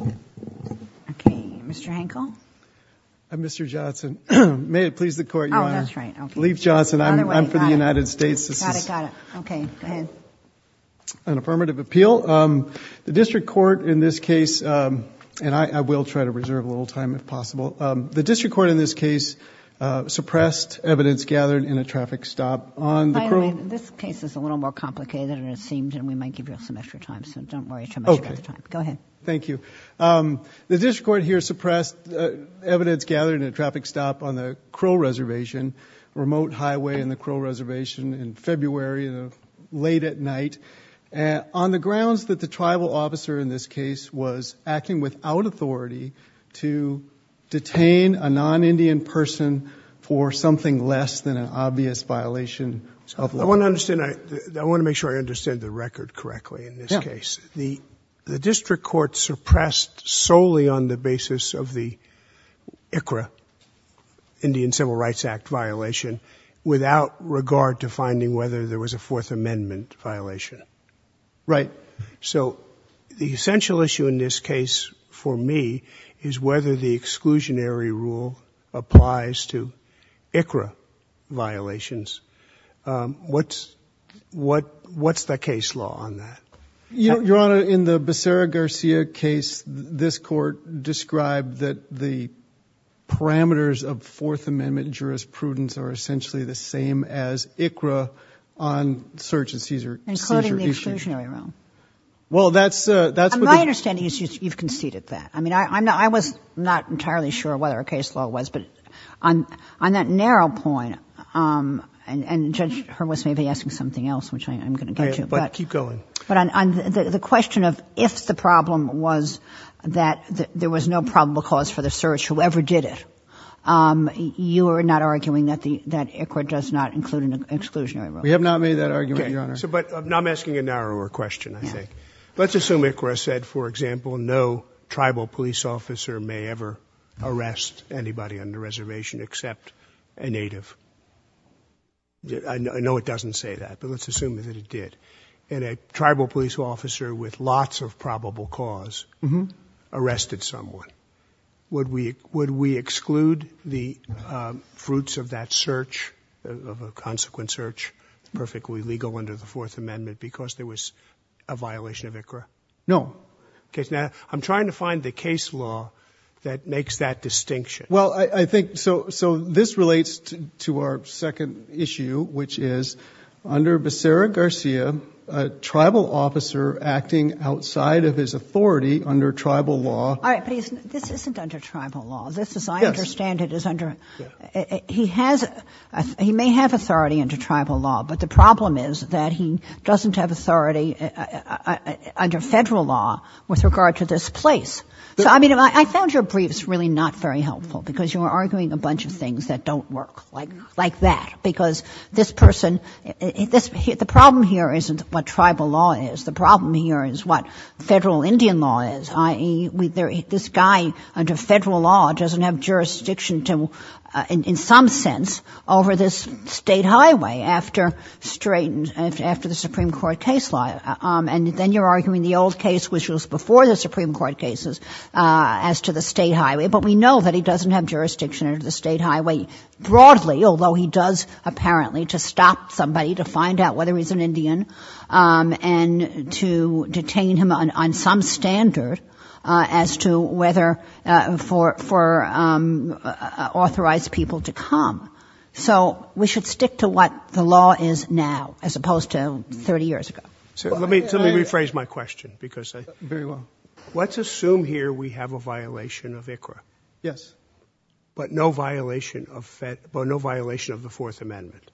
Okay, Mr. Hankel. Mr. Johnson. May it please the Court, Your Honor. Oh, that's right. Leif Johnson, I'm for the United States. Got it, got it. Okay, go ahead. An affirmative appeal. The District Court in this case, and I will try to reserve a little time if possible, the District Court in this case suppressed evidence gathered in a traffic stop. By the way, this case is a little more complicated than it seemed and we might give you some extra time, so don't worry too much about the time. Okay. Go ahead. Thank you. The District Court here suppressed evidence gathered in a traffic stop on the Crow Reservation, remote highway in the Crow Reservation, in February, late at night, and on the grounds that the tribal officer in this case was acting without authority to detain a non-Indian person for something less than an obvious violation of law. I want to understand, I want to make sure I understand the record correctly in this case. The District Court suppressed solely on the basis of the ICRA, Indian Civil Rights Act violation, without regard to finding whether there was a Fourth Amendment violation. Right. So the essential issue in this case for me is whether the exclusionary rule applies to ICRA on that. Your Honor, in the Becerra-Garcia case, this Court described that the parameters of Fourth Amendment jurisprudence are essentially the same as ICRA on search and seizure issues. Including the exclusionary rule. Well, that's, that's... My understanding is you've conceded that. I mean, I was not entirely sure whether a case law was, but on that narrow point, and Judge Hurwitz may be something else which I'm going to get to. But keep going. But on the question of if the problem was that there was no probable cause for the search, whoever did it, you are not arguing that the, that ICRA does not include an exclusionary rule. We have not made that argument, Your Honor. So, but I'm asking a narrower question, I think. Let's assume ICRA said, for example, no tribal police officer may ever arrest anybody on the reservation except a native. I know it doesn't say that, but let's assume that it did. And a tribal police officer with lots of probable cause arrested someone. Would we, would we exclude the fruits of that search, of a consequent search, perfectly legal under the Fourth Amendment, because there was a violation of ICRA? No. Okay, now I'm trying to find the case law that makes that distinction. Well, I, I think, so, so this relates to, to our second issue, which is under Becerra-Garcia, a tribal officer acting outside of his authority under tribal law. All right, but he's, this isn't under tribal law. This is, I understand it is under, he has, he may have authority under tribal law, but the problem is that he doesn't have authority under federal law with regard to this place. So, I mean, I found your briefs really not very helpful, because you were arguing a bunch of things that don't work, like, like that, because this person, this, the problem here isn't what tribal law is. The problem here is what federal Indian law is, i.e., this guy under federal law doesn't have jurisdiction to, in some sense, over this state highway after straight, after the Supreme Court case law. And then you're arguing the old case, which was before the Supreme Court cases, as to the state highway. But we know that he doesn't have jurisdiction under the state highway broadly, although he does, apparently, to stop somebody, to find out whether he's an Indian, and to detain him on, on some standard as to whether, for, for authorized people to come. So we should stick to what the law is now, as opposed to 30 years ago. So let me, let me rephrase my question, because I... Very well. Let's assume here we have a violation of ICRA. Yes. But no violation of, but no violation of the Fourth Amendment.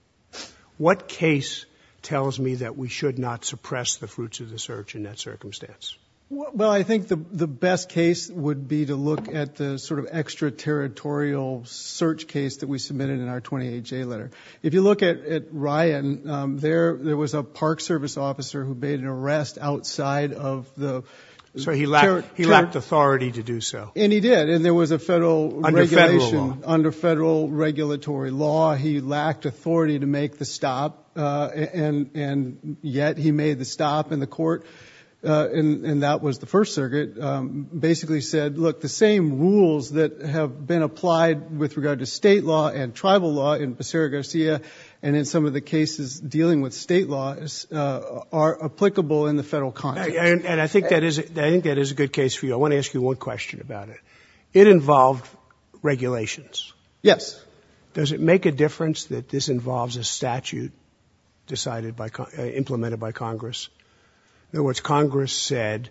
What case tells me that we should not suppress the fruits of the search in that circumstance? Well, I think the, the best case would be to look at the sort of extra-territorial search case that we submitted in our 28-J letter. If you look at, at Ryan, there, there was a Park Service officer who made an arrest outside of the... So he lacked, he lacked authority to do so. And he did, and there was a federal regulation... Under federal law. Under federal regulatory law, he lacked authority to make the stop, and, and yet he made the stop in the court, and, and that was the First Circuit, basically said, look, the same rules that have been applied with regard to state law and state laws are applicable in the federal context. And, and I think that is, I think that is a good case for you. I want to ask you one question about it. It involved regulations. Yes. Does it make a difference that this involves a statute decided by, implemented by Congress? In other words, Congress said,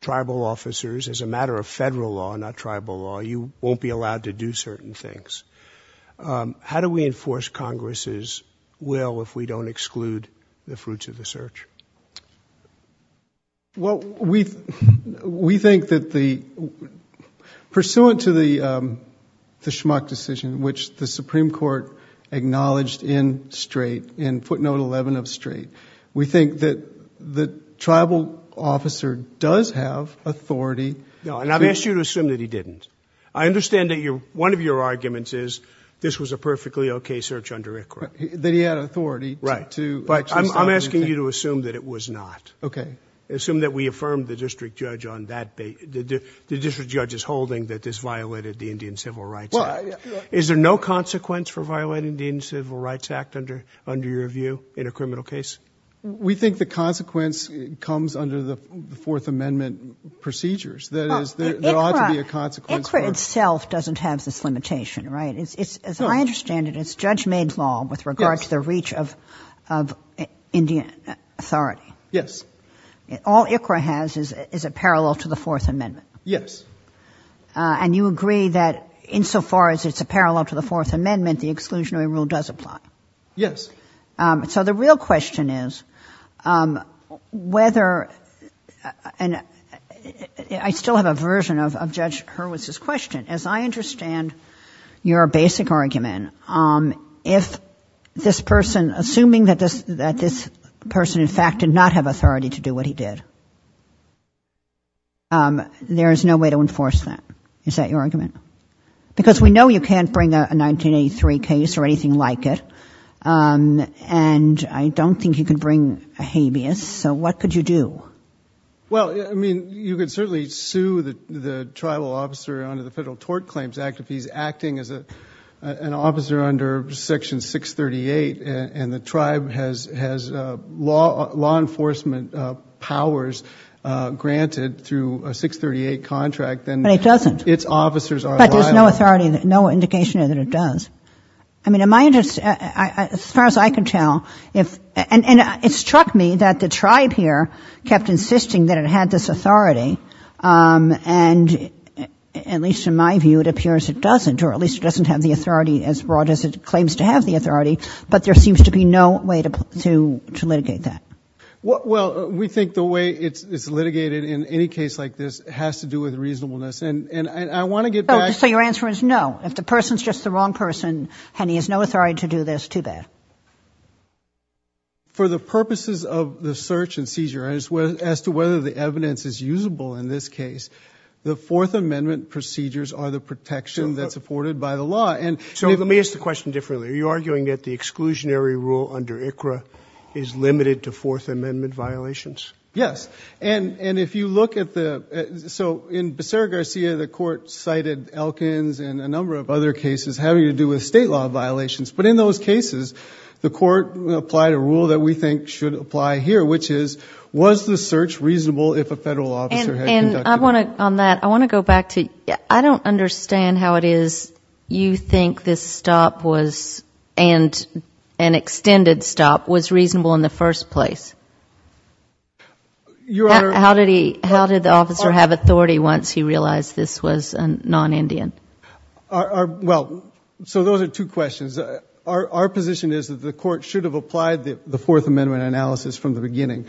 tribal officers, as a matter of federal law, not tribal law, you won't be allowed to do certain things. How do we enforce Congress's will if we don't exclude the fruits of the search? Well, we, we think that the, pursuant to the, the Schmuck decision, which the Supreme Court acknowledged in Strait, in footnote 11 of Strait, we think that the tribal officer does have authority... No, and I've asked you to assume that he didn't. I understand that your, one of your under ICRA. That he had authority to... Right. But I'm, I'm asking you to assume that it was not. Okay. Assume that we affirmed the district judge on that, the district judge's holding that this violated the Indian Civil Rights Act. Well, I... Is there no consequence for violating the Indian Civil Rights Act under, under your view in a criminal case? We think the consequence comes under the Fourth Amendment procedures. That is, there ought to be a consequence for... ICRA, ICRA itself doesn't have this limitation, right? It's, it's, as I understand it, it's judge-made law... Yes. ...with regard to the reach of, of Indian authority. Yes. All ICRA has is, is a parallel to the Fourth Amendment. Yes. And you agree that insofar as it's a parallel to the Fourth Amendment, the exclusionary rule does apply. Yes. So the real question is whether, and I still have a version of, of Judge Hurwitz's question, as I understand your basic argument, if this person, assuming that this, that this person in fact did not have authority to do what he did, there is no way to enforce that. Is that your argument? Because we know you can't bring a 1983 case or anything like it, and I don't think you can bring a habeas, so what could you do? Well, I mean, you could certainly sue the, the tribal officer under the Federal Tort Claims Act if he's acting as a, an officer under Section 638 and, and the tribe has, has law, law enforcement powers granted through a 638 contract, then... But it doesn't. ...its officers are... But there's no authority, no indication that it does. I mean, in my interest, as far as I can tell, if, and, and it struck me that the tribe here kept insisting that it had this authority, and at least in my view, it appears it doesn't, or at least it doesn't have the authority as broad as it claims to have the authority, but there seems to be no way to, to, to litigate that. Well, we think the way it's, it's litigated in any case like this has to do with reasonableness and, and I want to get back... So, so your answer is no. If the person's just the wrong person and he has no authority to do this, too bad. For the purposes of the search and seizure as to whether the evidence is usable in this case, the Fourth Amendment procedures are the protection that's afforded by the law and... So let me ask the question differently. Are you arguing that the exclusionary rule under ICRA is limited to Fourth Amendment violations? Yes. And, and if you look at the, so in Becerra-Garcia, the court cited Elkins and a number of other violations, but in those cases, the court applied a rule that we think should apply here, which is, was the search reasonable if a federal officer had conducted... And, and I want to, on that, I want to go back to, I don't understand how it is you think this stop was, and an extended stop, was reasonable in the first place. Your Honor... How did he, how did the officer have authority once he realized this was a non-Indian? Our, our, well, so those are two questions. Our, our position is that the court should have applied the, the Fourth Amendment analysis from the beginning.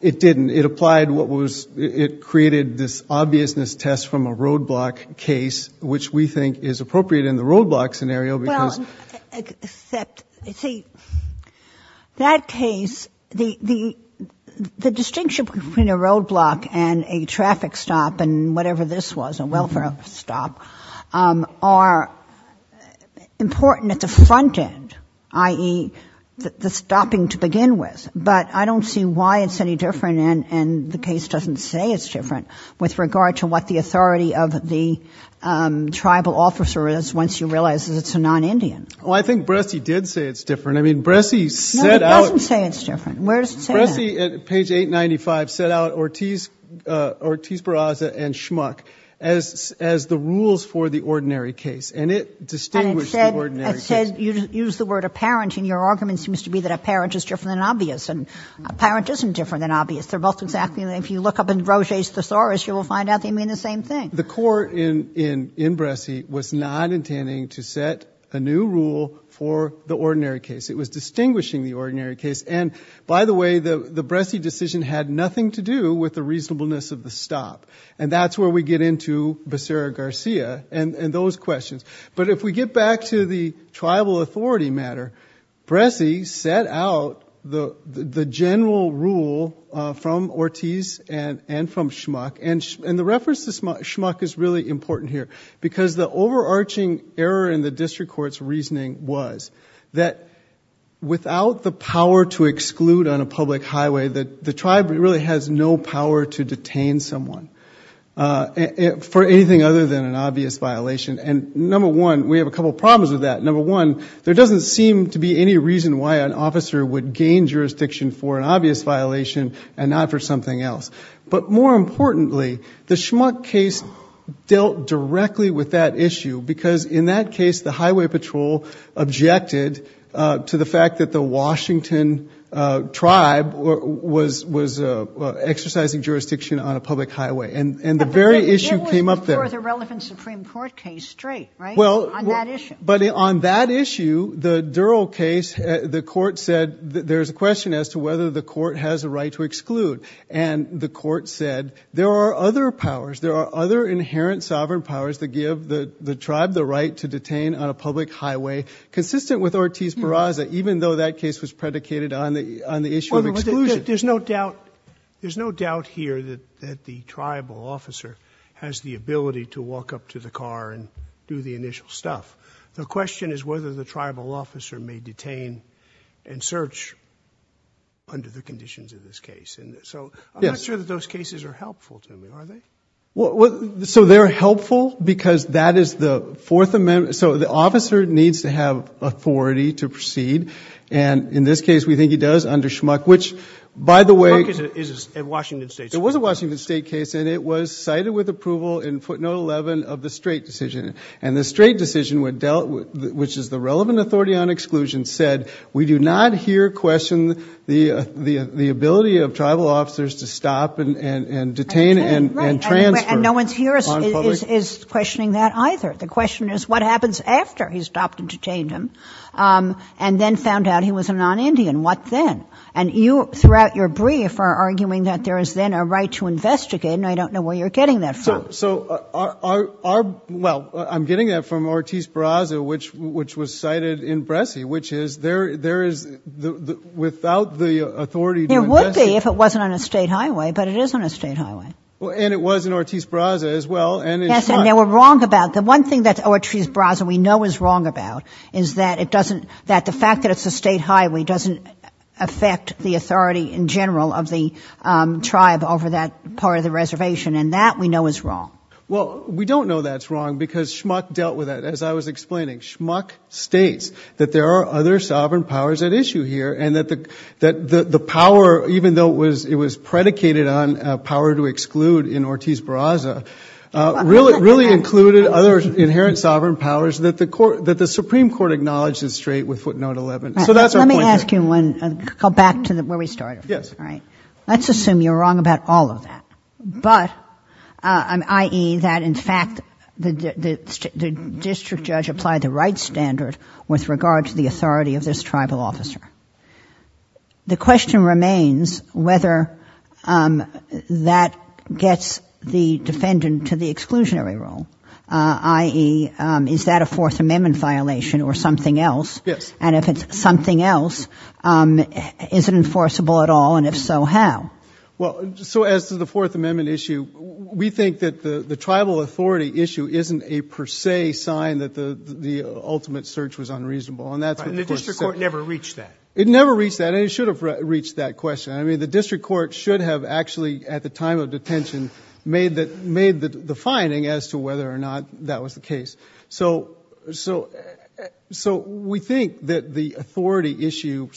It didn't. It applied what was, it created this obviousness test from a roadblock case, which we think is appropriate in the roadblock scenario because... Well, except, see, that case, the, the, the distinction between a roadblock and a traffic stop, and whatever this was, a welfare stop, are important at the front end, i.e., the stopping to begin with. But I don't see why it's any different, and, and the case doesn't say it's different with regard to what the authority of the tribal officer is once you realize that it's a non-Indian. Well, I think Bresci did say it's different. I mean, Bresci set out... No, he doesn't say it's different. Where does he say that? Bresci, at page 895, set out Ortiz, Ortiz-Barraza and Schmuck as, as the rules for the ordinary case, and it distinguished the ordinary case. And it said, it said, you used the word apparent, and your argument seems to be that apparent is different than obvious, and apparent isn't different than obvious. They're both exactly the same. If you look up in Roger's Thesaurus, you will find out they mean the same thing. The court in, in, in Bresci was not intending to set a new rule for the ordinary case. It was distinguishing the ordinary case, and, by the way, the, the Bresci decision had nothing to do with the reasonableness of the stop, and that's where we get into Becerra-Garcia and, and those questions. But if we get back to the tribal authority matter, Bresci set out the, the general rule from Ortiz and, and from Schmuck, and, and the reference to Schmuck is really important here, because the overarching error in the district court's reasoning was that without the power to exclude on a public highway, that the tribe really has no power to detain someone, for anything other than an obvious violation. And number one, we have a couple problems with that. Number one, there doesn't seem to be any reason why an officer would gain jurisdiction for an obvious violation and not for something else. But more importantly, the Schmuck case dealt directly with that issue, because in that case, the highway patrol objected to the fact that the Washington tribe was, was exercising jurisdiction on a public highway, and, and the very issue came up there. But that wasn't for the relevant Supreme Court case straight, right, on that issue? Well, but on that issue, the Durrell case, the court said there's a question as to whether the court has a right to exclude. And the court said there are other powers, there are other inherent sovereign powers that give the, the tribe the right to detain on a public highway, consistent with Ortiz-Barraza, even though that case was predicated on the, on the issue of exclusion. Well, but there's no doubt, there's no doubt here that, that the tribal officer has the ability to walk up to the car and do the initial stuff. The question is whether the conditions of this case. And so, I'm not sure that those cases are helpful to me, are they? Well, so they're helpful because that is the Fourth Amendment. So the officer needs to have authority to proceed. And in this case, we think he does under Schmuck, which by the way Schmuck is a, is a Washington State case. It was a Washington State case, and it was cited with approval in footnote 11 of the straight decision. And the straight decision, which is the relevant authority on the, the ability of tribal officers to stop and, and, and detain and, and transfer on public... And no one here is, is, is questioning that either. The question is what happens after he's stopped and detained him, and then found out he was a non-Indian? What then? And you, throughout your brief, are arguing that there is then a right to investigate, and I don't know where you're getting that from. So, so our, our, our, well, I'm getting that from Ortiz-Barraza, which, which was the, the, without the authority to investigate... It would be if it wasn't on a state highway, but it is on a state highway. Well, and it was in Ortiz-Barraza as well, and in Schmuck. Yes, and they were wrong about, the one thing that Ortiz-Barraza we know is wrong about is that it doesn't, that the fact that it's a state highway doesn't affect the authority in general of the tribe over that part of the reservation, and that we know is wrong. Well, we don't know that's wrong, because Schmuck dealt with that. As I was saying, that's the issue here, and that the, that the, the power, even though it was, it was predicated on power to exclude in Ortiz-Barraza, really, really included other inherent sovereign powers that the court, that the Supreme Court acknowledged is straight with footnote 11. So that's our point here. Let me ask you one, go back to where we started. Yes. All right. Let's assume you're wrong about all of that, but, I mean, i.e., that in fact the, the, the district judge applied the right standard with regard to the authority of this tribal officer. The question remains whether that gets the defendant to the exclusionary rule, i.e., is that a Fourth Amendment violation or something else? Yes. And if it's something else, is it enforceable at all, and if so, how? Well, so as to the Fourth Amendment issue, we think that the, the tribal authority issue isn't a per se sign that the, the ultimate search was unreasonable. And that's what the court said. And the district court never reached that? It never reached that, and it should have reached that question. I mean, the district court should have actually, at the time of detention, made the, made the, the finding as to whether or not that was the case. So, so, so we think that the authority issue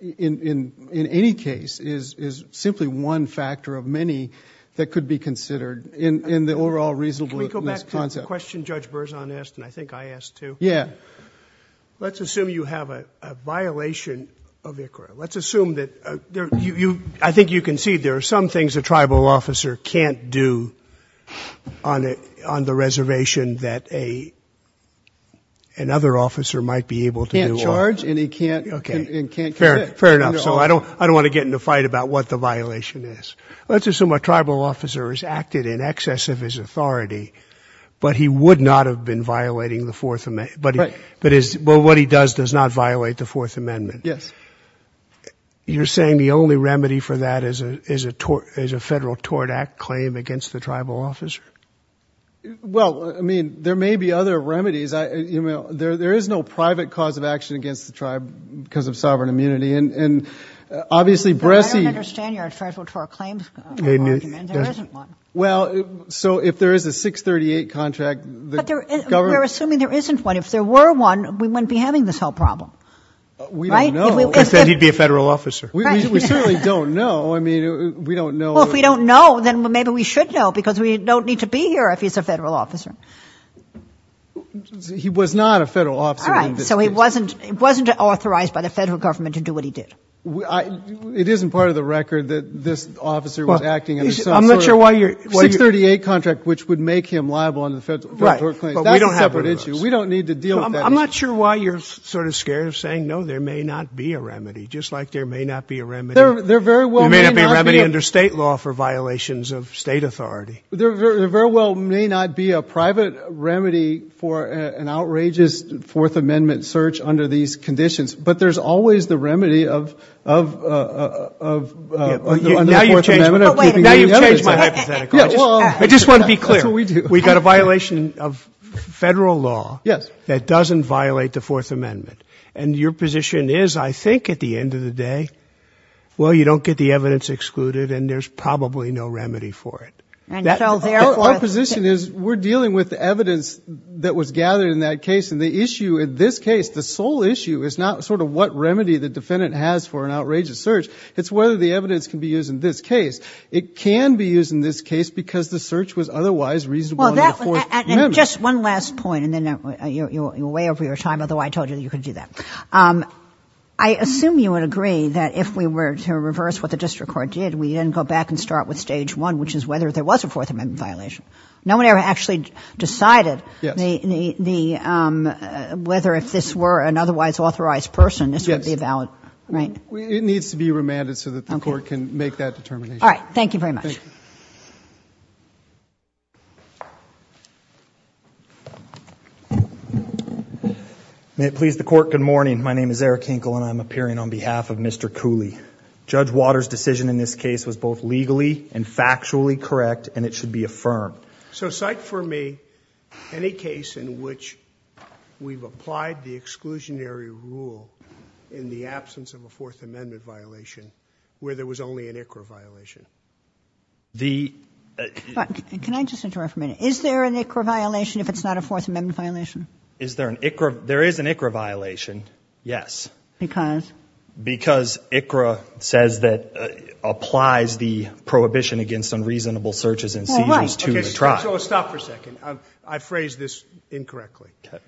in, in, in any case is, is simply one factor of many that could be considered in, in the overall reasonable misconcept. Can we go back to the question Judge Berzon asked, and I think I asked too? Yeah. Let's assume you have a, a violation of ICRA. Let's assume that there, you, you, I think you can see there are some things a tribal officer can't do on a, on the reservation that a, another officer might be able to do. Can't charge, and he can't. Okay. And can't commit. Fair, fair enough. So I don't, I don't want to get in a fight about what the violation is. Let's assume a tribal officer has acted in excess of his authority, but he would not have been violating the Fourth Amendment. Right. But his, well, what he does does not violate the Fourth Amendment. Yes. You're saying the only remedy for that is a, is a tort, is a Federal Tort Act claim against the tribal officer? Well, I mean, there may be other remedies. I, you know, there, there is no private cause of action against the tribe because of sovereign immunity, and, and obviously Bresci. I don't understand your Federal Tort Claims argument. There isn't one. Well, so if there is a 638 contract, the government. We're assuming there isn't one. If there were one, we wouldn't be having this whole problem. We don't know. I said he'd be a Federal officer. We certainly don't know. I mean, we don't know. Well, if we don't know, then maybe we should know because we don't need to be here if he's a Federal officer. He was not a Federal officer. All right. So he wasn't, wasn't authorized by the Federal government to do what he did. It isn't part of the record that this officer was acting under some sort of. I'm not sure why you're. 638 contract, which would make him liable under the Federal Tort Claims. Right, but we don't have one of those. That's a separate issue. We don't need to deal with that issue. I'm not sure why you're sort of scared of saying, no, there may not be a remedy, just like there may not be a remedy. There very well may not be. There may not be a remedy under State law for violations of State authority. There very well may not be a private remedy for an outrageous Fourth Amendment search under these conditions. But there's always the remedy of the Fourth Amendment. Now you've changed my hypothetical. I just want to be clear. That's what we do. We've got a violation of Federal law that doesn't violate the Fourth Amendment. And your position is, I think, at the end of the day, well you don't get the evidence excluded and there's probably no remedy for it. Our position is we're dealing with evidence that was gathered in that case. And the issue in this case, the sole issue, is not sort of what remedy the defendant has for an outrageous search. It's whether the evidence can be used in this case. It can be used in this case because the search was otherwise reasonable under the Fourth Amendment. And just one last point, and then you're way over your time, although I told you that you could do that. I assume you would agree that if we were to reverse what the district court did, we didn't go back and start with Stage 1, which is whether there was a Fourth Amendment violation. No one ever actually decided whether if this were an otherwise authorized person this would be valid, right? It needs to be remanded so that the court can make that determination. All right. Thank you very much. Thank you. May it please the Court, good morning. My name is Eric Hinkle and I'm appearing on behalf of Mr. Cooley. Judge Waters' decision in this case was both legally and factually correct and it should be affirmed. So cite for me any case in which we've applied the exclusionary rule in the absence of a Fourth Amendment violation where there was only an ICRA violation. Can I just interrupt for a minute? Is there an ICRA violation if it's not a Fourth Amendment violation? Is there an ICRA? There is an ICRA violation, yes. Because? Because ICRA says that applies the prohibition against unreasonable searches and seizures to the tribe. All right. Okay. So stop for a second. I phrased this incorrectly. Okay.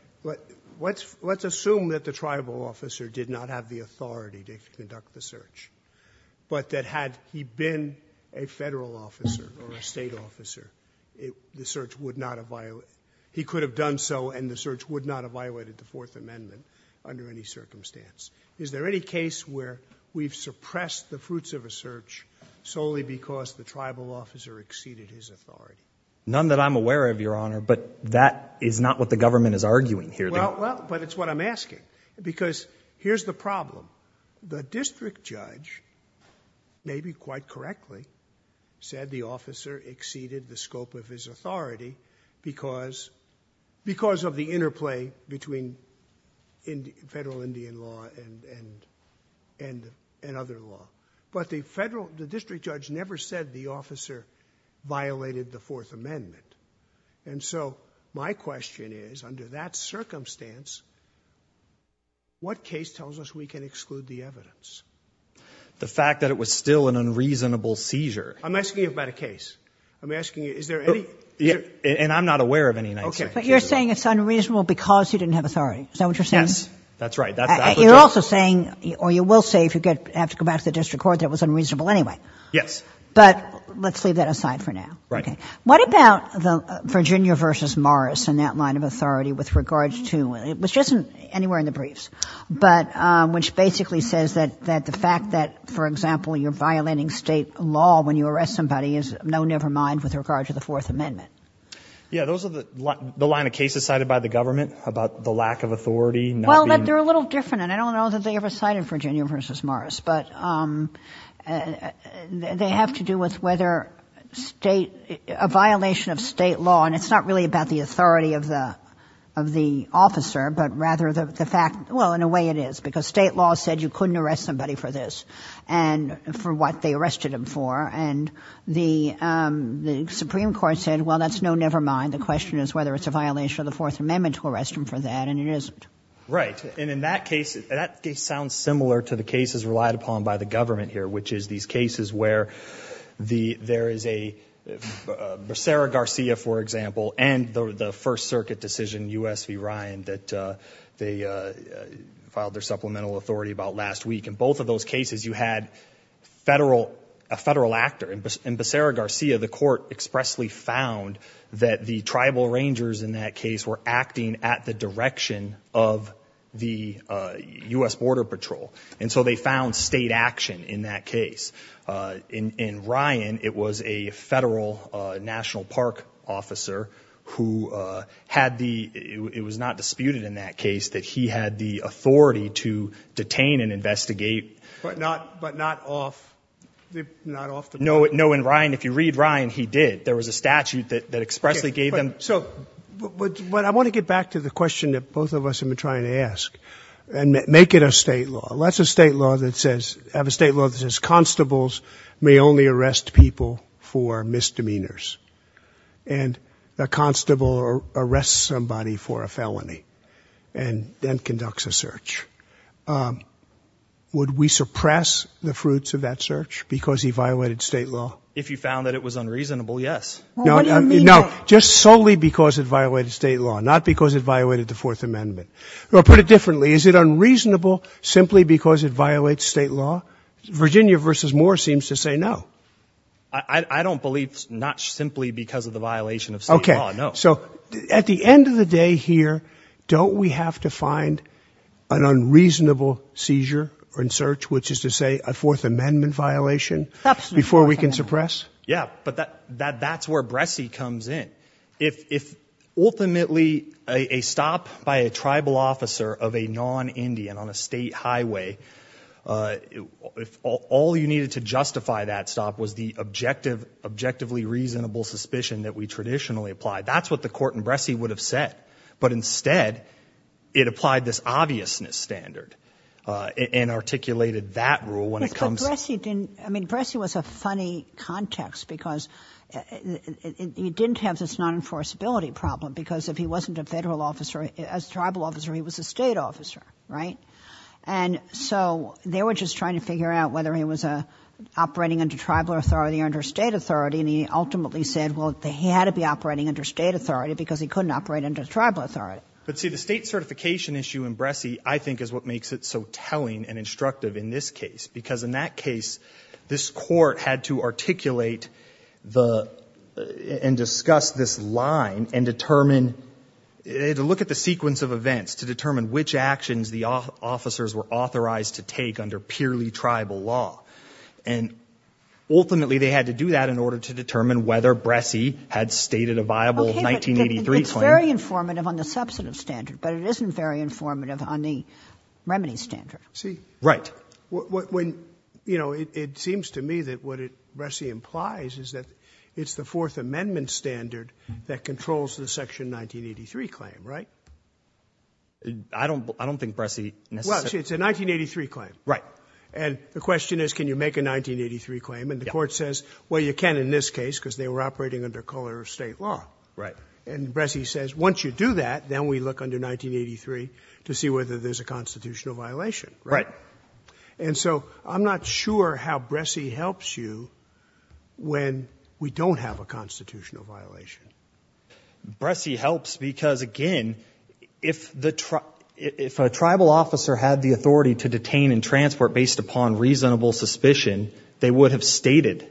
Let's assume that the tribal officer did not have the authority to conduct the search, but that had he been a Federal officer or a State officer, the search would not have violated it. He could have done so and the search would not have violated the Fourth Amendment under any circumstance. Is there any case where we've suppressed the fruits of a search solely because the tribal officer exceeded his authority? None that I'm aware of, Your Honor, but that is not what the government is arguing here. Well, but it's what I'm asking. Because here's the problem. The district judge, maybe quite correctly, said the officer exceeded the scope of his authority because of the interplay between Federal Indian law and other law. But the district judge never said the officer violated the Fourth Amendment. And so my question is, under that circumstance, what case tells us we can exclude the evidence? The fact that it was still an unreasonable seizure. I'm asking you about a case. I'm asking you, is there any? And I'm not aware of any. Okay. But you're saying it's unreasonable because you didn't have authority. Is that what you're saying? Yes. That's right. You're also saying, or you will say if you have to go back to the district court, that it was unreasonable anyway. Yes. But let's leave that aside for now. Right. Okay. What about Virginia v. Morris and that line of authority with regards to, which isn't anywhere in the briefs, but which basically says that the fact that, for example, you're going to have to go back to the district court, you're going to have to go back to Morris and say, never mind with regard to the Fourth Amendment. Yeah. Those are the line of cases cited by the government about the lack of authority. Well, they're a little different. And I don't know that they ever cited Virginia v. Morris. But they have to do with whether a violation of state law, and it's not really about the authority of the officer, but rather the fact, well, in a way it is. Because state law said you couldn't arrest somebody for this and for what they arrested him for. And the Supreme Court said, well, that's no never mind. The question is whether it's a violation of the Fourth Amendment to arrest him for that. And it isn't. Right. And in that case, that case sounds similar to the cases relied upon by the government here, which is these cases where there is a, for Sarah Garcia, for example, and the First Circuit decision, U.S. v. Ryan, that they filed their supplemental authority about last week. In both of those cases, you had a federal actor. And for Sarah Garcia, the court expressly found that the tribal rangers in that case were acting at the direction of the U.S. Border Patrol. And so they found state action in that case. In Ryan, it was a federal national park officer who had the, it was not disputed in that case that he had the authority to detain and investigate. But not, but not off, not off the board. No, no. In Ryan, if you read Ryan, he did. There was a statute that expressly gave them. So, but I want to get back to the question that both of us have been trying to ask. And make it a state law. Lots of state law that says, have a state law that says constables may only arrest people for misdemeanors. And a constable arrests somebody for a felony and then conducts a search. Would we suppress the fruits of that search because he violated state law? If you found that it was unreasonable, yes. No, just solely because it violated state law, not because it violated the Fourth Amendment. Or put it differently. Is it unreasonable simply because it violates state law? Virginia versus Moore seems to say no. I don't believe not simply because of the violation of state law. No. So at the end of the day here, don't we have to find an unreasonable seizure or in search, which is to say a Fourth Amendment violation before we can suppress. Yeah. But that, that, that's where Bressie comes in. If, if ultimately a stop by a tribal officer of a non-Indian on a state highway, if all you needed to justify that stop was the objective, objectively reasonable suspicion that we traditionally apply, that's what the court in Bressie would have said. But instead it applied this obviousness standard and articulated that rule when it comes. I mean, Bressie was a funny context because you didn't have this non-enforceability problem because if he wasn't a federal officer, as tribal officer, he was a state officer. Right? And so they were just trying to figure out whether he was a operating under tribal authority or under state authority. And he ultimately said, well, they had to be operating under state authority because he couldn't operate under tribal authority. But see the state certification issue in Bressie, I think is what makes it so telling and instructive in this case, because in that case, this court had to articulate the and discuss this law and the line and determine, they had to look at the sequence of events to determine which actions the officers were authorized to take under purely tribal law. And ultimately they had to do that in order to determine whether Bressie had stated a viable 1983 claim. Okay, but it's very informative on the substantive standard, but it isn't very informative on the remedy standard. Right. When, you know, it seems to me that what Bressie implies is that it's the Fourth Amendment standard that controls the section 1983 claim. Right. I don't, I don't think Bressie. It's a 1983 claim. Right. And the question is, can you make a 1983 claim? And the court says, well, you can in this case because they were operating under color of state law. Right. And Bressie says, once you do that, then we look under 1983 to see whether there's a constitutional violation. Right. And so I'm not sure how Bressie helps you when we don't have a constitutional violation. Bressie helps because again, if the, if a tribal officer had the authority to detain and transport based upon reasonable suspicion, they would have stated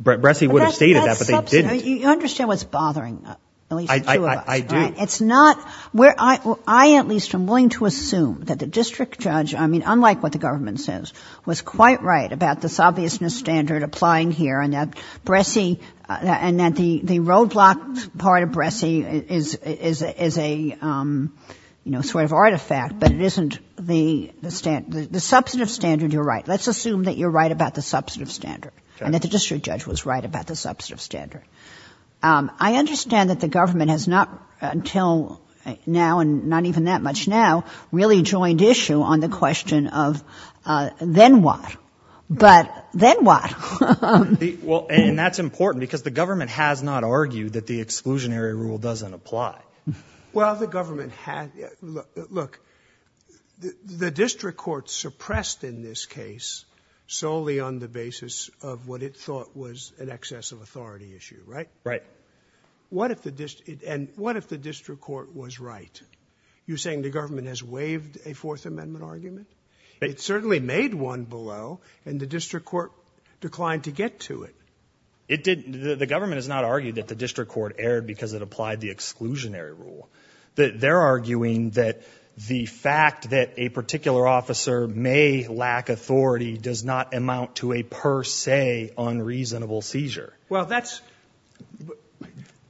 Bressie would have stated that, but they didn't. You understand what's bothering. I do. It's not where I, I at least am willing to assume that the district judge, I mean, unlike what the government says was quite right about this obviousness standard applying here and that Bressie and that the, the roadblocks part of Bressie is, is, is a, you know, sort of artifact, but it isn't the, the standard, the substantive standard you're right. Let's assume that you're right about the substantive standard and that the district judge was right about the substantive standard. I understand that the government has not until now and not even that much now really joined issue on the question of then what, but then what? Well, and that's important because the government has not argued that the exclusionary rule doesn't apply. Well, the government had look, the district court suppressed in this case solely on the basis of what it thought was an excess of authority issue, right? Right. What if the district and what if the district court was right? You're saying the government has waived a fourth amendment argument. It certainly made one below. And the district court declined to get to it. It did. The government has not argued that the district court aired because it applied the exclusionary rule that they're arguing that the fact that a particular officer may lack authority does not amount to a purse say unreasonable seizure. Well, that's,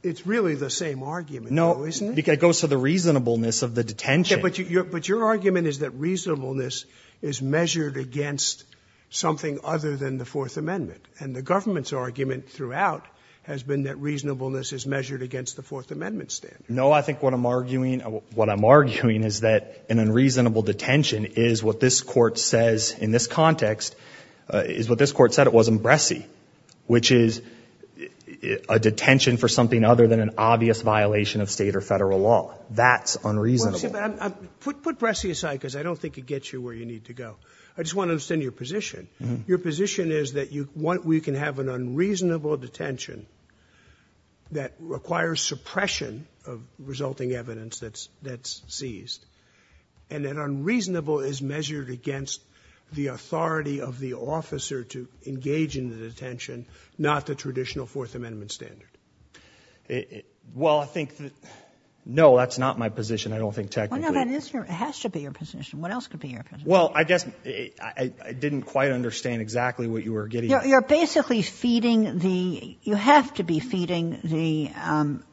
it's really the same argument. No, isn't it? It goes to the reasonableness of the detention. But you, something other than the fourth amendment and the government's argument throughout has been that reasonableness is measured against the fourth amendment standard. No, I think what I'm arguing, what I'm arguing is that an unreasonable detention is what this court says in this context is what this court said. It wasn't Bresci, which is a detention for something other than an obvious violation of state or federal law. That's unreasonable. Put, put Bresci aside. Cause I don't think it gets you where you need to go. I just want to understand your position. Your position is that you want, we can have an unreasonable detention that requires suppression of resulting evidence that's, that's seized and that unreasonable is measured against the authority of the officer to engage in the detention, not the traditional fourth amendment standard. It, well, I think that, no, that's not my position. I don't think technically, it has to be your position. What else could be here? Well, I guess I didn't quite understand exactly what you were getting at. You're basically feeding the, you have to be feeding the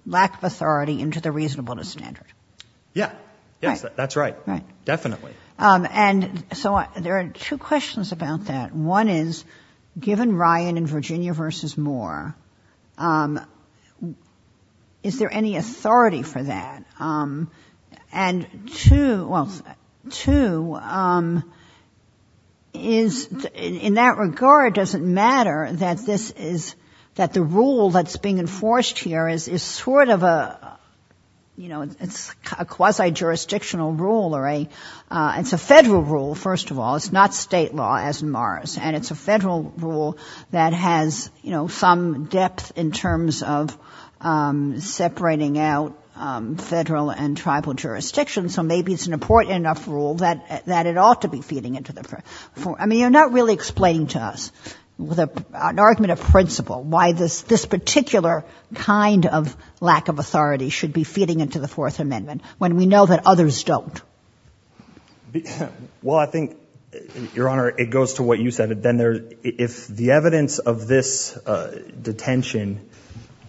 lack of authority into the reasonableness standard. Yeah. Yes. That's right. Right. Definitely. And so there are two questions about that. One is given Ryan and Virginia versus Moore, is there any authority for that? And two, well, two is in that regard, doesn't matter that this is that the rule that's being enforced here is, is sort of a, you know, it's a quasi jurisdictional rule or a it's a federal rule. First of all, it's not state law as in Mars and it's a federal rule that has, you know, some depth in terms of separating out federal and tribal jurisdictions. So maybe it's an important enough rule that, that it ought to be feeding into the, for, I mean, you're not really explaining to us with an argument of principle, why this, this particular kind of lack of authority should be feeding into the fourth amendment when we know that others don't. Well, I think your honor, it goes to what you said. Then there, if the evidence of this detention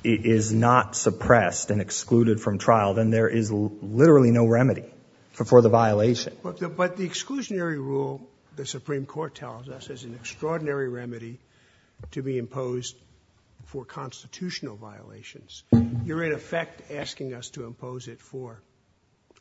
is not suppressed and excluded from trial, then there is literally no remedy for, for the violation. But the exclusionary rule, the Supreme court tells us is an extraordinary remedy to be imposed for constitutional violations. You're in effect asking us to impose it for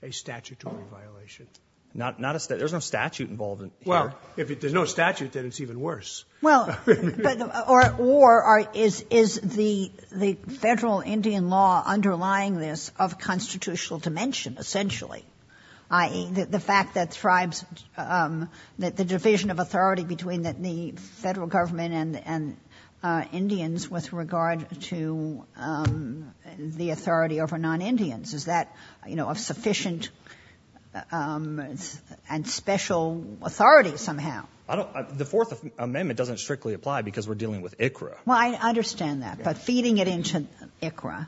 a statutory violation, not, not a state. There's no statute involved. Well, if there's no statute, then it's even worse. Well, or war is, is the, the federal Indian law underlying this of constitutional dimension, essentially. I, the, the fact that tribes that the division of authority between the federal government and, and Indians with regard to the authority over non-Indians, is that, you know, of sufficient and special authority somehow. I don't, the fourth amendment doesn't strictly apply because we're dealing with bringing it into ICRA,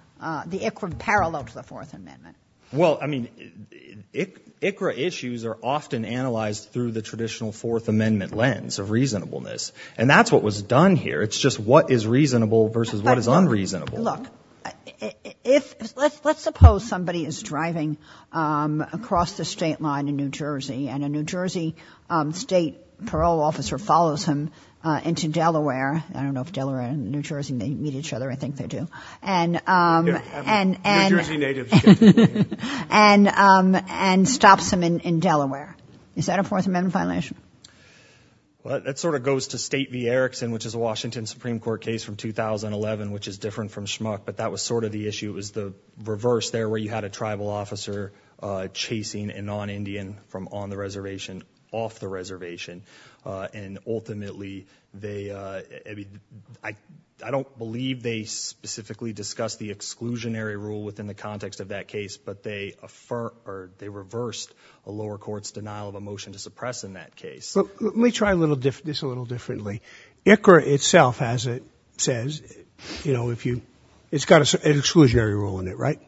the ICRA parallel to the fourth amendment. Well, I mean, ICRA issues are often analyzed through the traditional fourth amendment lens of reasonableness. And that's what was done here. It's just what is reasonable versus what is unreasonable. Look, if let's, let's suppose somebody is driving across the state line in New Jersey and a New Jersey state parole officer follows him into Delaware. I don't know if Delaware and New Jersey may meet each other. I think they do. And, and, and, and, and, and stops him in, in Delaware. Is that a fourth amendment violation? Well, that sort of goes to state v. Erickson, which is a Washington Supreme court case from 2011, which is different from schmuck, but that was sort of the issue was the reverse there where you had a tribal officer chasing a non-Indian from on the reservation off the reservation. And ultimately they, I mean, I, I don't believe they specifically discuss the exclusionary rule within the context of that case, but they affirm or they reversed a lower court's denial of a motion to suppress in that case. Let me try a little different, this a little differently. ICHRA itself, as it says, you know, if you, it's got an exclusionary rule in it, right?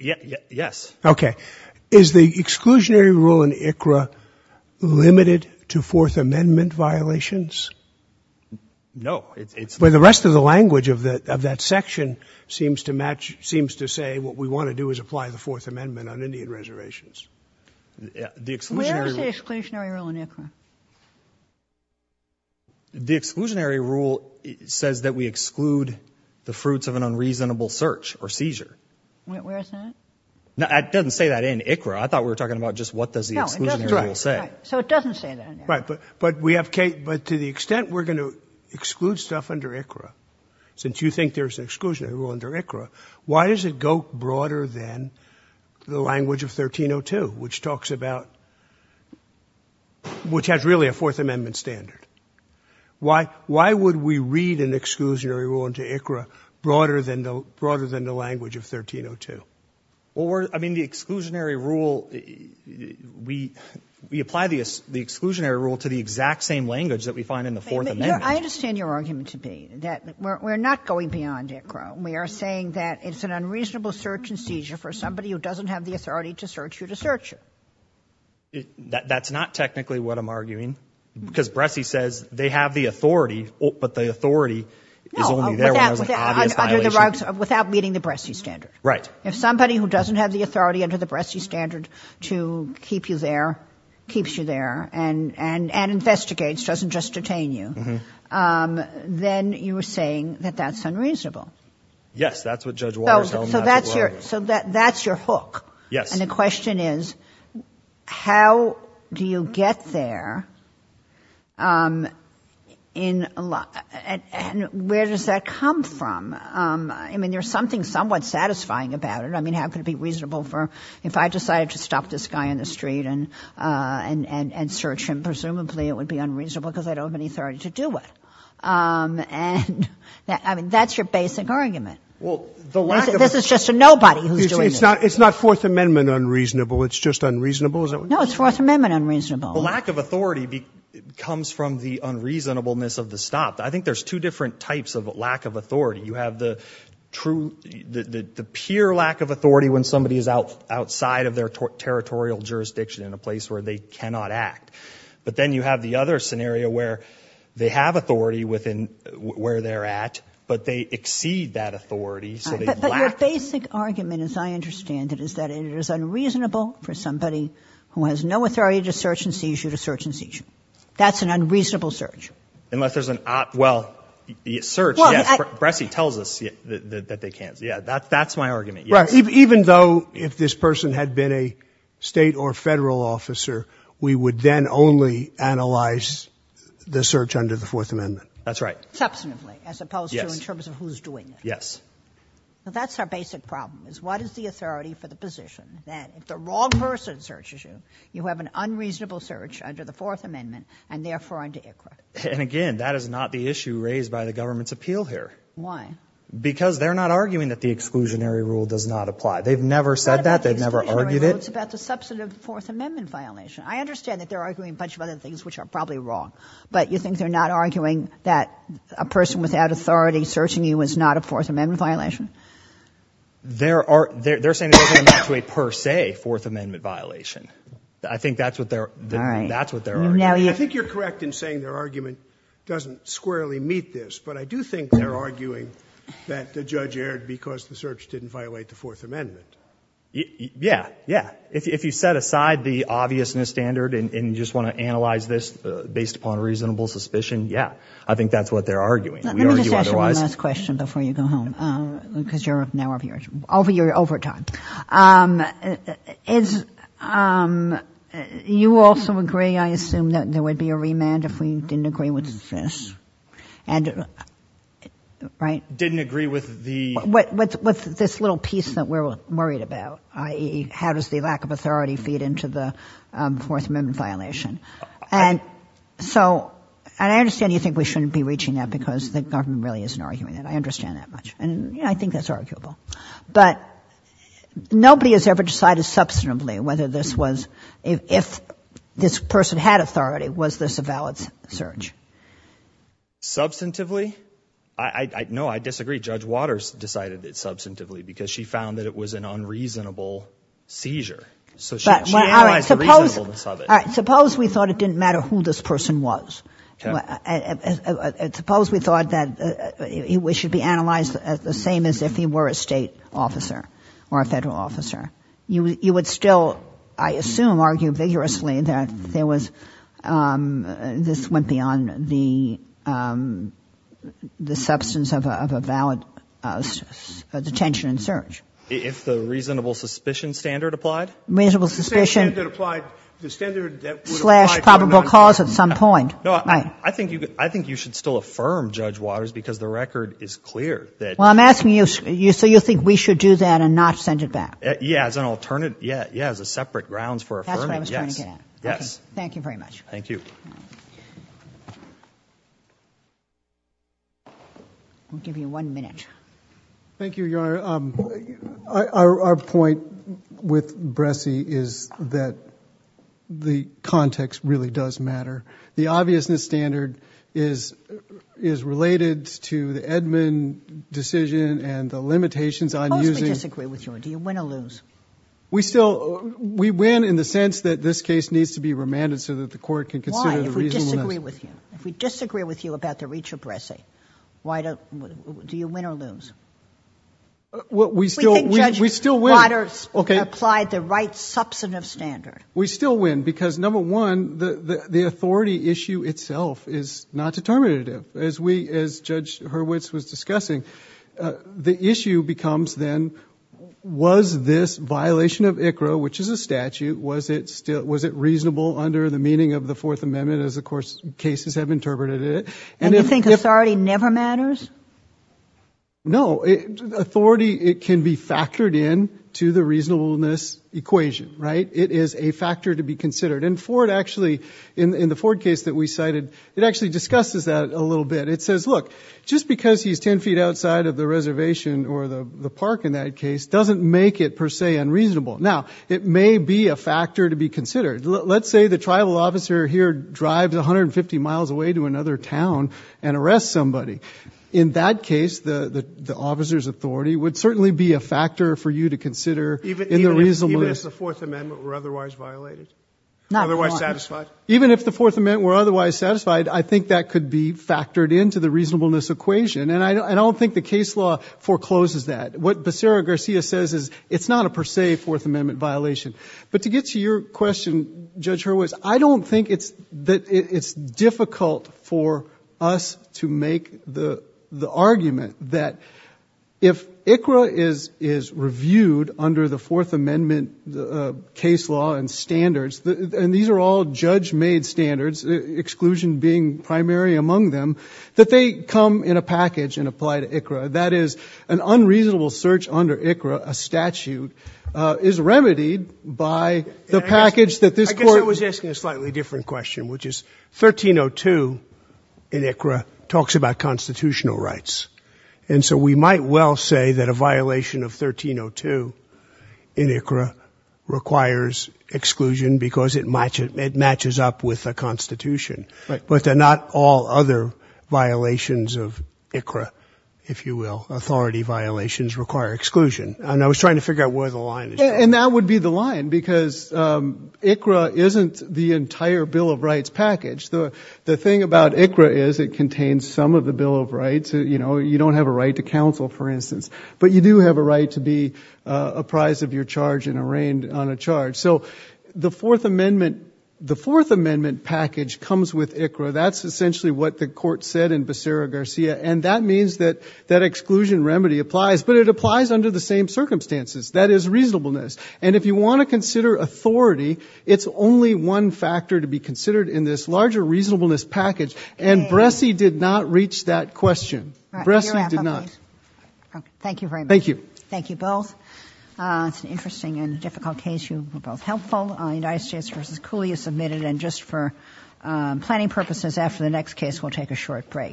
Yeah. Yes. Okay. Is the exclusionary rule in ICHRA limited to fourth amendment violations? No, it's, it's where the rest of the language of the, of that section seems to match, seems to say what we want to do is apply the fourth amendment on Indian reservations. The exclusionary rule in ICHRA, the exclusionary rule says that we exclude the fruits of an unreasonable search or seizure. Where is that? Now, it doesn't say that in ICHRA. I thought we were talking about just what does the exclusionary rule say? So it doesn't say that. Right. But, but we have Kate, but to the extent we're going to exclude stuff under ICHRA, since you think there's an exclusionary rule under ICHRA, why does it go broader than the language of 1302, which talks about, which has really a fourth amendment standard? Why, why would we read an exclusionary rule into ICHRA broader than the broader than the language of 1302? Or, I mean the exclusionary rule, we, we apply the exclusionary rule to the exact same language that we find in the fourth amendment. I understand your argument to be that we're not going beyond ICHRA. We are saying that it's an unreasonable search and seizure for somebody who doesn't have the authority to search you to search you. That's not technically what I'm arguing, because Bresci says they have the authority, but the authority is only there when there's an obvious violation. No, under the rugs, without meeting the Bresci standard. Right. If somebody who doesn't have the authority under the Bresci standard to keep you there, keeps you there and, and, and investigates, doesn't just detain you, then you were saying that that's unreasonable. Yes, that's what Judge Waters tells me. So that's your, so that's your hook. Yes. And the question is, how do you get there? And where does that come from? I mean, there's something somewhat satisfying about it. I mean, how could it be reasonable for, if I decided to stop this guy in the street and, and, and search him, presumably it would be unreasonable because I don't have any authority to do it. And I mean, that's your basic argument. Well, the lack of. This is just a nobody who's doing this. It's not, it's not Fourth Amendment unreasonable. It's just unreasonable. Is that what you're saying? No, it's Fourth Amendment unreasonable. The lack of authority comes from the unreasonableness of the stop. I think there's two different types of lack of authority. You have the true, the, the, the pure lack of authority when somebody is out, outside of their territorial jurisdiction in a place where they cannot act. But then you have the other scenario where they have authority within, where they're at, but they exceed that authority. So they lack. But your basic argument, as I understand it, is that it is unreasonable for somebody who has no authority to search and seizure to search and seizure. That's an unreasonable search. Unless there's an op, well, search. Well, Bressie tells us that they can't. Yeah. That's my argument. Right. Even though if this person had been a state or federal officer, we would then only analyze the search under the Fourth Amendment. That's right. Substantively, as opposed to in terms of who's doing it. Yes. So that's our basic problem is what is the authority for the position that if the wrong person searches you, you have an unreasonable search under the Fourth Amendment and therefore under your credit. And again, that is not the issue raised by the government's appeal here. Why? Because they're not arguing that the exclusionary rule does not apply. They've never said that. They've never argued it. It's about the substantive Fourth Amendment violation. I understand that they're arguing a bunch of other things, which are probably wrong, but you think they're not arguing that a person without authority searching you is not a Fourth Amendment violation? They're saying it doesn't amount to a per se Fourth Amendment violation. I think that's what they're arguing. I think you're correct in saying their argument doesn't squarely meet this, but I do think they're arguing that the judge erred because the search didn't violate the Fourth Amendment. Yeah. Yeah. If you set aside the obviousness standard and you just want to analyze this based upon reasonable suspicion, yeah, I think that's what they're arguing. Let me just ask you one last question before you go home, because you're now over time. You also agree, I assume, that there would be a remand if we didn't agree with this, right? Didn't agree with the? With this little piece that we're worried about, i.e., how does the lack of authority feed into the Fourth Amendment violation? And I understand you think we shouldn't be reaching that because the government really isn't arguing that. I understand that much, and I think that's arguable. But nobody has ever decided substantively whether this was, if this person had authority, was this a valid search? Substantively? No, I disagree. Judge Waters decided it substantively because she found that it was an unreasonable seizure. So she analyzed the reasonableness of it. All right. Suppose we thought it didn't matter who this person was. Okay. Suppose we thought that it should be analyzed the same as if he were a state officer or a federal officer. You would still, I assume, argue vigorously that there was, this went beyond the substance of a valid detention and search. If the reasonable suspicion standard applied? Reasonable suspicion. The standard that would apply. Slash probable cause at some point. No, I think you should still affirm, Judge Waters, because the record is clear that. Well, I'm asking you, so you think we should do that and not send it back? Yeah, as an alternative. Yeah. Yeah. As a separate grounds for affirming. Yes. Yes. Thank you very much. Thank you. I'll give you one minute. Thank you, Your Honor. Our point with Bressie is that the context really does matter. The obviousness standard is, is related to the Edmund decision and the limitations on using. I disagree with you. Do you win or lose? We still, we win in the sense that this case needs to be remanded so that the court can consider. If we disagree with you, if we disagree with you about the reach of Bressie, why don't you win or lose? What we still, we still win. Okay. Applied the right substantive standard. We still win because number one, the authority issue itself is not determinative as we, as judge Hurwitz was discussing. The issue becomes then was this violation of ICHRA, which is a statute. Was it still, was it reasonable under the meaning of the fourth amendment? As of course, cases have interpreted it. And you think authority never matters. No authority. It can be factored in to the reasonableness equation, right? It is a factor to be considered. And for it actually in, in the Ford case that we cited, it actually discusses that a little bit. It says, look just because he's 10 feet outside of the reservation or the, the park in that case, doesn't make it per se unreasonable. Now it may be a factor to be considered. Let's say the tribal officer here drives 150 miles away to another town and arrest somebody. In that case, the, the officer's authority would certainly be a factor for you to consider in the reasonableness. Even if the fourth amendment were otherwise violated, otherwise satisfied. Even if the fourth amendment were otherwise satisfied, I think that could be factored into the reasonableness equation. And I don't think the case law forecloses that. What Becerra Garcia says is it's not a per se fourth amendment violation, but to get to your question, judge Hurwitz, I don't think it's that it's difficult for us to make the, the argument that if ICRA is, is reviewed under the fourth amendment, the case law and standards, and these are all judge made standards exclusion being primary among them, that they come in a package and apply to ICRA. That is an unreasonable search under ICRA. A statute is remedied by the package that this court was asking a slightly different question, which is 1302 in ICRA talks about constitutional rights. And so we might well say that a violation of 1302 in ICRA requires exclusion because it matches up with a constitution, but they're not all other violations of ICRA, if you will, authority violations require exclusion. And I was trying to figure out where the line is. And that would be the line because ICRA isn't the entire bill of rights package. The, the thing about ICRA is it contains some of the bill of rights. You know, you don't have a right to counsel for instance, but you do have a right to be apprised of your charge and arraigned on a charge. So the fourth amendment, the fourth amendment package comes with ICRA. That's essentially what the court said in Becerra Garcia. And that means that that exclusion remedy applies, but it applies under the same circumstances that is reasonableness. And if you want to consider authority, it's only one factor to be considered in this larger reasonableness package. And Bressie did not reach that question. Bressie did not. Thank you very much. Thank you. Thank you both. It's an interesting and difficult case. You were both helpful. United States versus Cooley is submitted. And just for planning purposes after the next case, we'll take a short break.